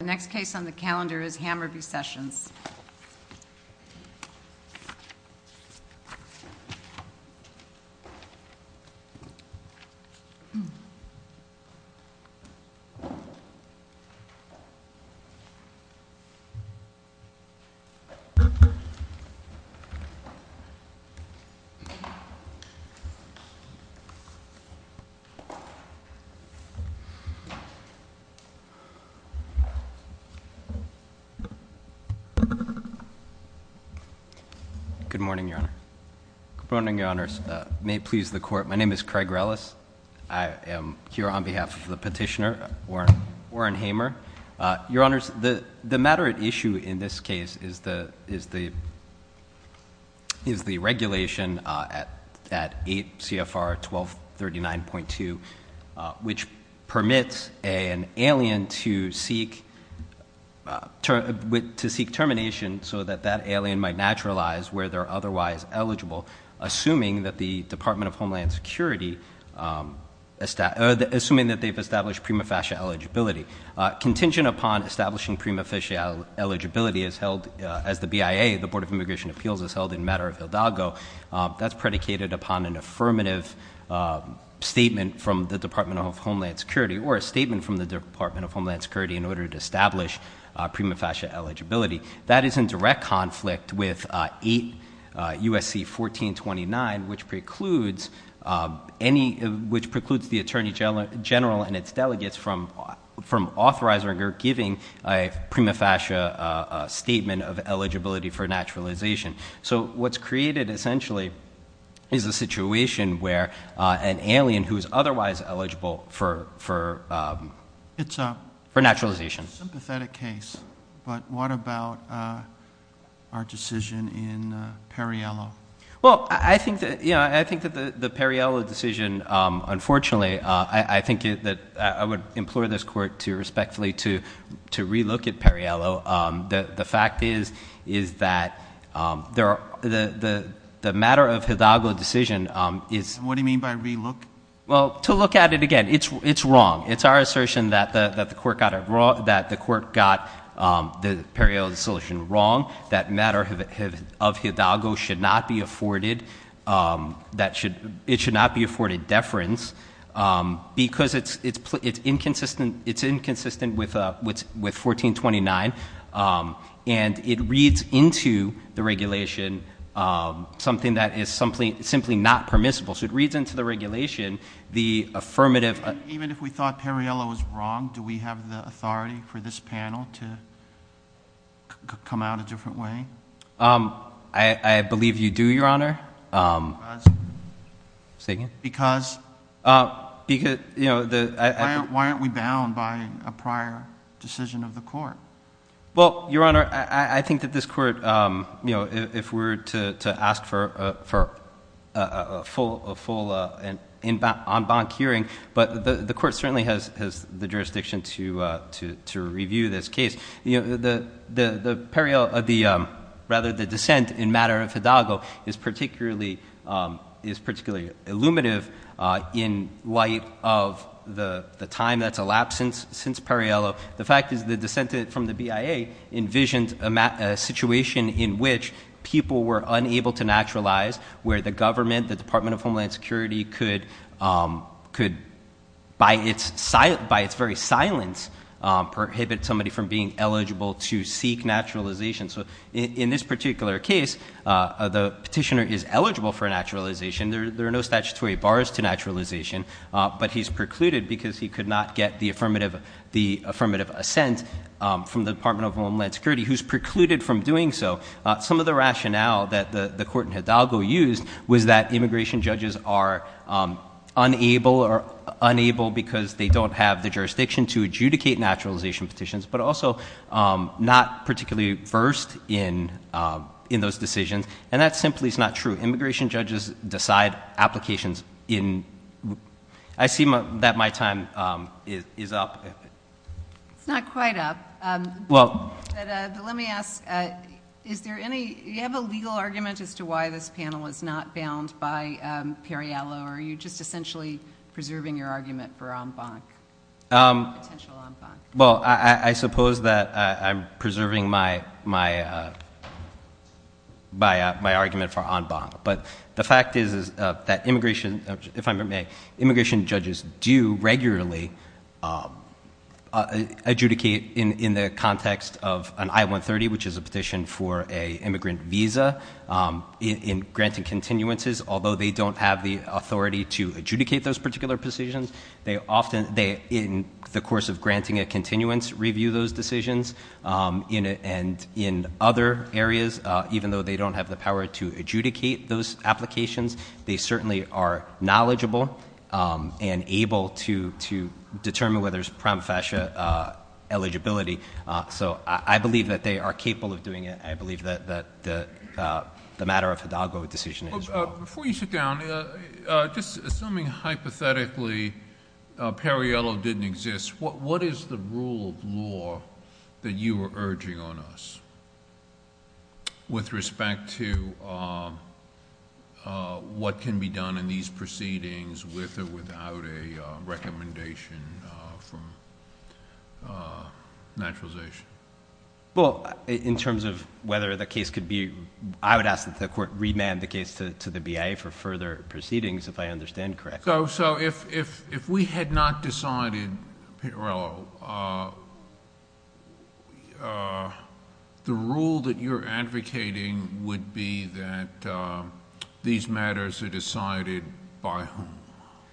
The next case on the calendar is Hamer v. Sessions. Craig Rellis Good morning, Your Honor. Good morning, Your Honors. May it please the Court, my name is Craig Rellis. I am here on behalf of the petitioner, Warren Hamer. Your Honors, the matter at issue in this case is the regulation at 8 CFR 1239.2, which permits an alien to seek termination so that that alien might naturalize where they're otherwise eligible, assuming that the Department of Homeland Security, assuming that they've established prima facie eligibility. Contingent upon establishing prima facie eligibility is held, as the BIA, the Board of Immigration Appeals, is held in matter of Hidalgo. That's predicated upon an affirmative statement from the Department of Homeland Security or a statement from the Department of Homeland Security in order to establish prima facie eligibility. That is in direct conflict with 8 USC 1429, which precludes the Attorney General and its delegates from authorizing or giving a prima facie statement of eligibility for naturalization. So what's created, essentially, is a situation where an alien who is otherwise eligible for naturalization. It's a sympathetic case, but what about our decision in Perriello? Well, I think that the Perriello decision, unfortunately, I think that I would implore this Court to respectfully to relook at Perriello. The fact is, is that the matter of Hidalgo decision is- What do you mean by relook? Well, to look at it again. It's wrong. It's our assertion that the Court got the Perriello decision wrong, that matter of Hidalgo should not be afforded, that it should not be afforded deference, because it's inconsistent with 1429, and it reads into the regulation something that is simply not permissible. So it reads into the regulation the affirmative- Even if we thought Perriello was wrong, do we have the authority for this panel to come out a different way? I believe you do, Your Honor. Because? Say again? Because? Because- Why aren't we bound by a prior decision of the Court? Well, Your Honor, I think that this Court, if we're to ask for a full en banc hearing, but the Court certainly has the jurisdiction to review this case. I mean, the Perriello, or rather the dissent in matter of Hidalgo is particularly illuminative in light of the time that's elapsed since Perriello. The fact is the dissent from the BIA envisioned a situation in which people were unable to naturalize where the government, the Department of Homeland Security could, by its very silence, prohibit somebody from being eligible to seek naturalization. So in this particular case, the petitioner is eligible for naturalization. There are no statutory bars to naturalization, but he's precluded because he could not get the affirmative assent from the Department of Homeland Security, who's precluded from doing so. Some of the rationale that the court in Hidalgo used was that immigration judges are unable because they don't have the jurisdiction to adjudicate naturalization petitions, but also not particularly versed in those decisions, and that simply is not true. Immigration judges decide applications in... I see that my time is up. It's not quite up, but let me ask, is there any... do you have a legal argument as to why this panel is not bound by Perriello, or are you just essentially preserving your argument for en banc, potential en banc? Well, I suppose that I'm preserving my argument for en banc, but the fact is that immigration, if I may, immigration judges do regularly adjudicate in the context of an I-130, which is a petition for an immigrant visa, in granting continuances, although they don't have the authority to adjudicate those particular petitions. They often, in the course of granting a continuance, review those decisions, and in other areas, even though they don't have the power to adjudicate those applications, they certainly are knowledgeable and able to determine whether there's prima facie eligibility. So I believe that they are capable of doing it, and I believe that the matter of Hidalgo decision is... Before you sit down, just assuming hypothetically Perriello didn't exist, what is the rule of law that you are urging on us with respect to what can be done in these proceedings with or without a recommendation from naturalization? Well, in terms of whether the case could be... I would ask that the court remand the case to the BIA for further proceedings, if I understand correctly. So if we had not decided, Perriello, the rule that you're advocating would be that these...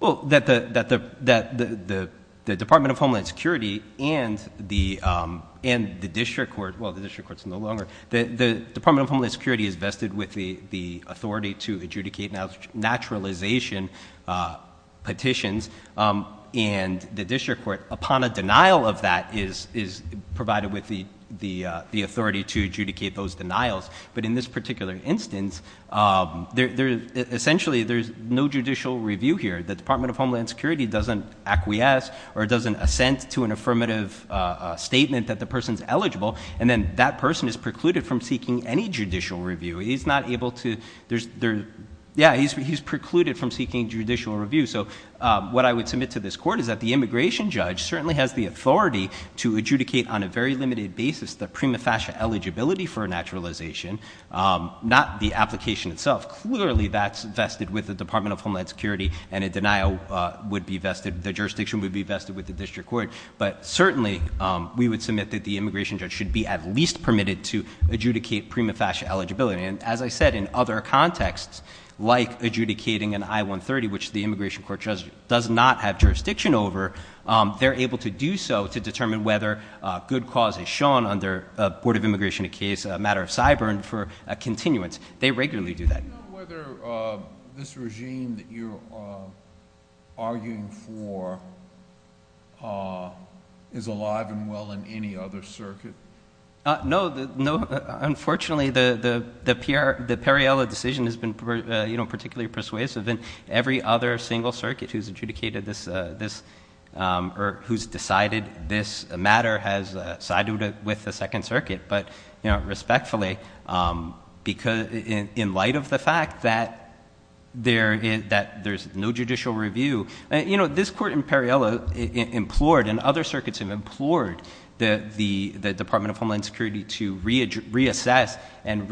Well, that the Department of Homeland Security and the district court... well, the district court is no longer... the Department of Homeland Security is vested with the authority to adjudicate naturalization petitions, and the district court, upon a denial of that, is provided with the authority to adjudicate those denials. But in this particular instance, essentially there's no judicial review here. The Department of Homeland Security doesn't acquiesce or doesn't assent to an affirmative statement that the person's eligible, and then that person is precluded from seeking any judicial review. He's not able to... yeah, he's precluded from seeking judicial review. So what I would submit to this court is that the immigration judge certainly has the authority to adjudicate on a very limited basis the prima facie eligibility for naturalization, not the application itself. Clearly, that's vested with the Department of Homeland Security, and a denial would be vested... the jurisdiction would be vested with the district court. But certainly, we would submit that the immigration judge should be at least permitted to adjudicate prima facie eligibility. And as I said, in other contexts, like adjudicating an I-130, which the immigration court does not have jurisdiction over, they're able to do so to determine whether a good cause is shown under a Board of Immigration case, a matter of cyber, and for a continuance. They regularly do that. Do you know whether this regime that you're arguing for is alive and well in any other circuit? No. No. Unfortunately, the Perriello decision has been particularly persuasive, and every other single circuit who's adjudicated this, or who's decided this matter, has sided with the Second Circuit. But respectfully, in light of the fact that there's no judicial review... You know, this court in Perriello implored, and other circuits have implored, the Department of Homeland Security to reassess and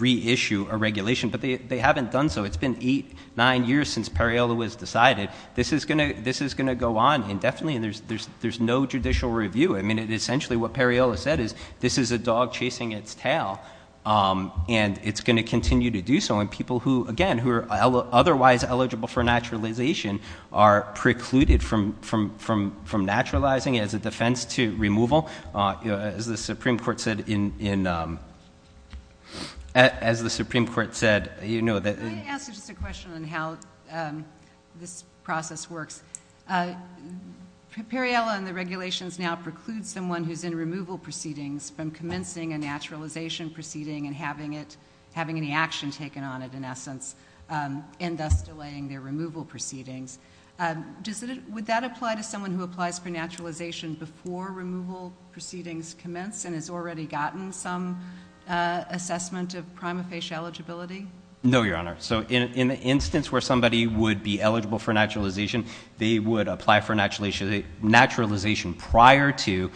reissue a regulation, but they haven't done so. It's been eight, nine years since Perriello was decided. This is going to go on indefinitely, and there's no judicial review. Essentially, what Perriello said is, this is a dog chasing its tail, and it's going to continue to do so. People who, again, who are otherwise eligible for naturalization are precluded from naturalizing as a defense to removal, as the Supreme Court said in... As the Supreme Court said... Can I ask you just a question on how this process works? Perriello and the regulations now preclude someone who's in removal proceedings from commencing a naturalization proceeding, and having any action taken on it, in essence, and thus delaying their removal proceedings. Would that apply to someone who applies for naturalization before removal proceedings commence and has already gotten some assessment of prima facie eligibility? No, Your Honor. So, in the instance where somebody would be eligible for naturalization, they would apply for naturalization prior to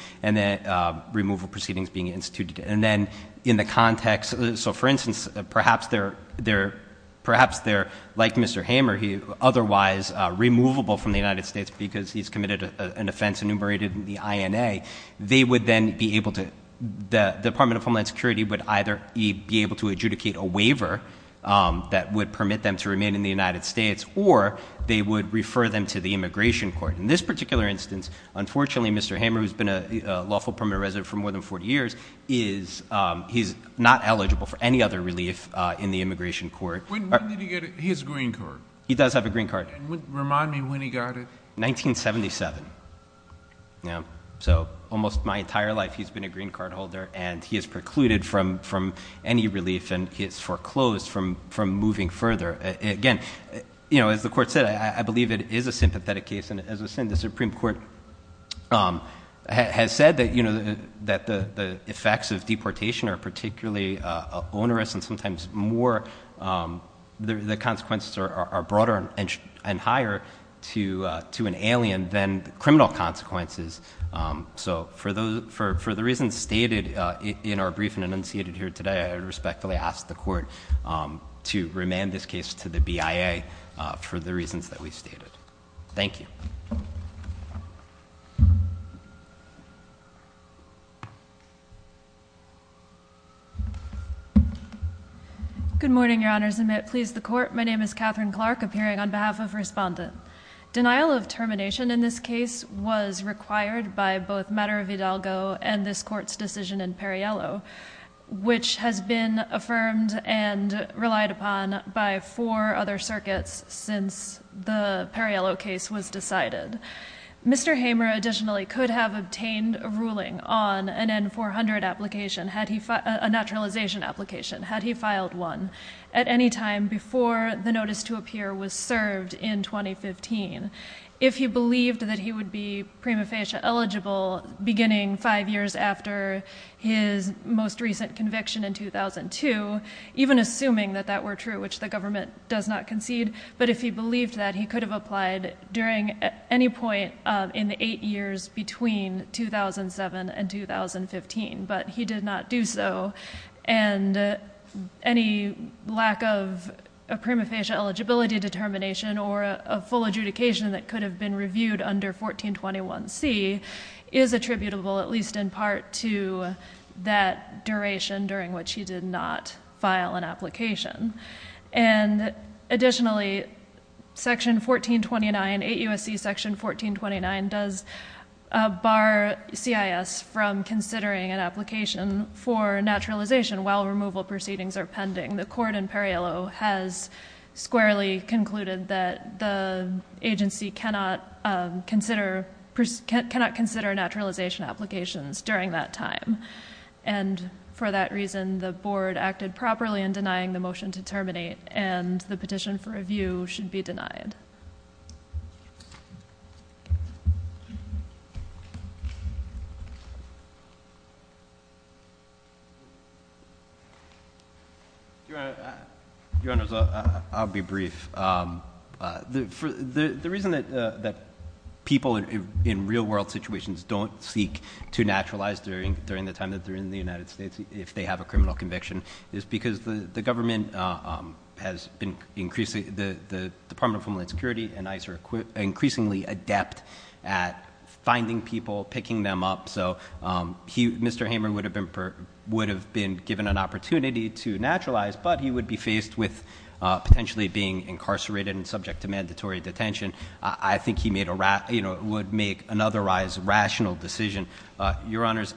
removal proceedings being instituted. And then, in the context... So, for instance, perhaps they're, like Mr. Hamer, otherwise removable from the United States because he's committed an offense enumerated in the INA, they would then be able to... The Department of Homeland Security would either be able to adjudicate a waiver that would permit them to remain in the United States, or they would refer them to the Immigration Court. In this particular instance, unfortunately, Mr. Hamer, who's been a lawful permanent resident for more than 40 years, he's not eligible for any other relief in the Immigration Court. When did he get his green card? He does have a green card. Remind me when he got it. 1977. Yeah. So, almost my entire life, he's been a green card holder, and he is precluded from any relief and he is foreclosed from moving further. Again, as the Court said, I believe it is a sympathetic case, and as I said, the Supreme Court has said that the effects of deportation are particularly onerous and sometimes more... The consequences are broader and higher to an alien than criminal consequences. So for the reasons stated in our briefing enunciated here today, I respectfully ask the Court to remand this case to the BIA for the reasons that we stated. Thank you. Good morning, Your Honors, and may it please the Court. My name is Catherine Clark, appearing on behalf of Respondent. Denial of termination in this case was required by both Madara Vidalgo and this Court's decision in Perriello, which has been affirmed and relied upon by four other circuits since the case was decided. Mr. Hamer additionally could have obtained a ruling on an N-400 application, a naturalization application, had he filed one, at any time before the notice to appear was served in 2015. If he believed that he would be prima facie eligible beginning five years after his most recent conviction in 2002, even assuming that that were true, which the government does not concede, but if he believed that, he could have applied during any point in the eight years between 2007 and 2015, but he did not do so. And any lack of a prima facie eligibility determination or a full adjudication that could have been reviewed under 1421C is attributable, at least in part, to that duration during which he did not file an application. And additionally, Section 1429, 8 U.S.C. Section 1429 does bar CIS from considering an application for naturalization while removal proceedings are pending. The Court in Perriello has squarely concluded that the agency cannot consider naturalization applications during that time, and for that reason the Board acted properly in denying the motion to terminate and the petition for review should be denied. Your Honor, I'll be brief. The reason that people in real world situations don't seek to naturalize during the time that the government has been increasingly, the Department of Homeland Security and ICE are increasingly adept at finding people, picking them up, so Mr. Hamer would have been given an opportunity to naturalize, but he would be faced with potentially being incarcerated and subject to mandatory detention. I think he would make an otherwise rational decision. Your Honors,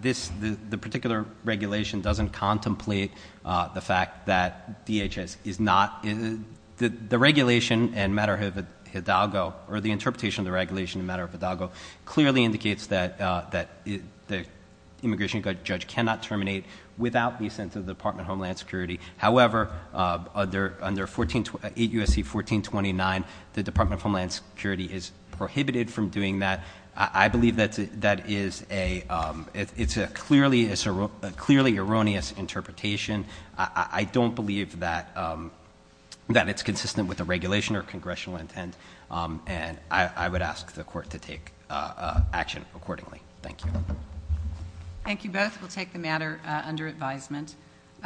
this, the particular regulation doesn't contemplate the fact that DHS is not, the regulation in matter of Hidalgo, or the interpretation of the regulation in matter of Hidalgo clearly indicates that the immigration judge cannot terminate without the assent of the Department of Homeland Security, however, under 8 U.S.C. 1429, the Department of Homeland Security is prohibited from doing that. I believe that is a, it's a clearly erroneous interpretation. I don't believe that it's consistent with the regulation or congressional intent and I would ask the court to take action accordingly. Thank you. Thank you both. We'll take the matter under advisement.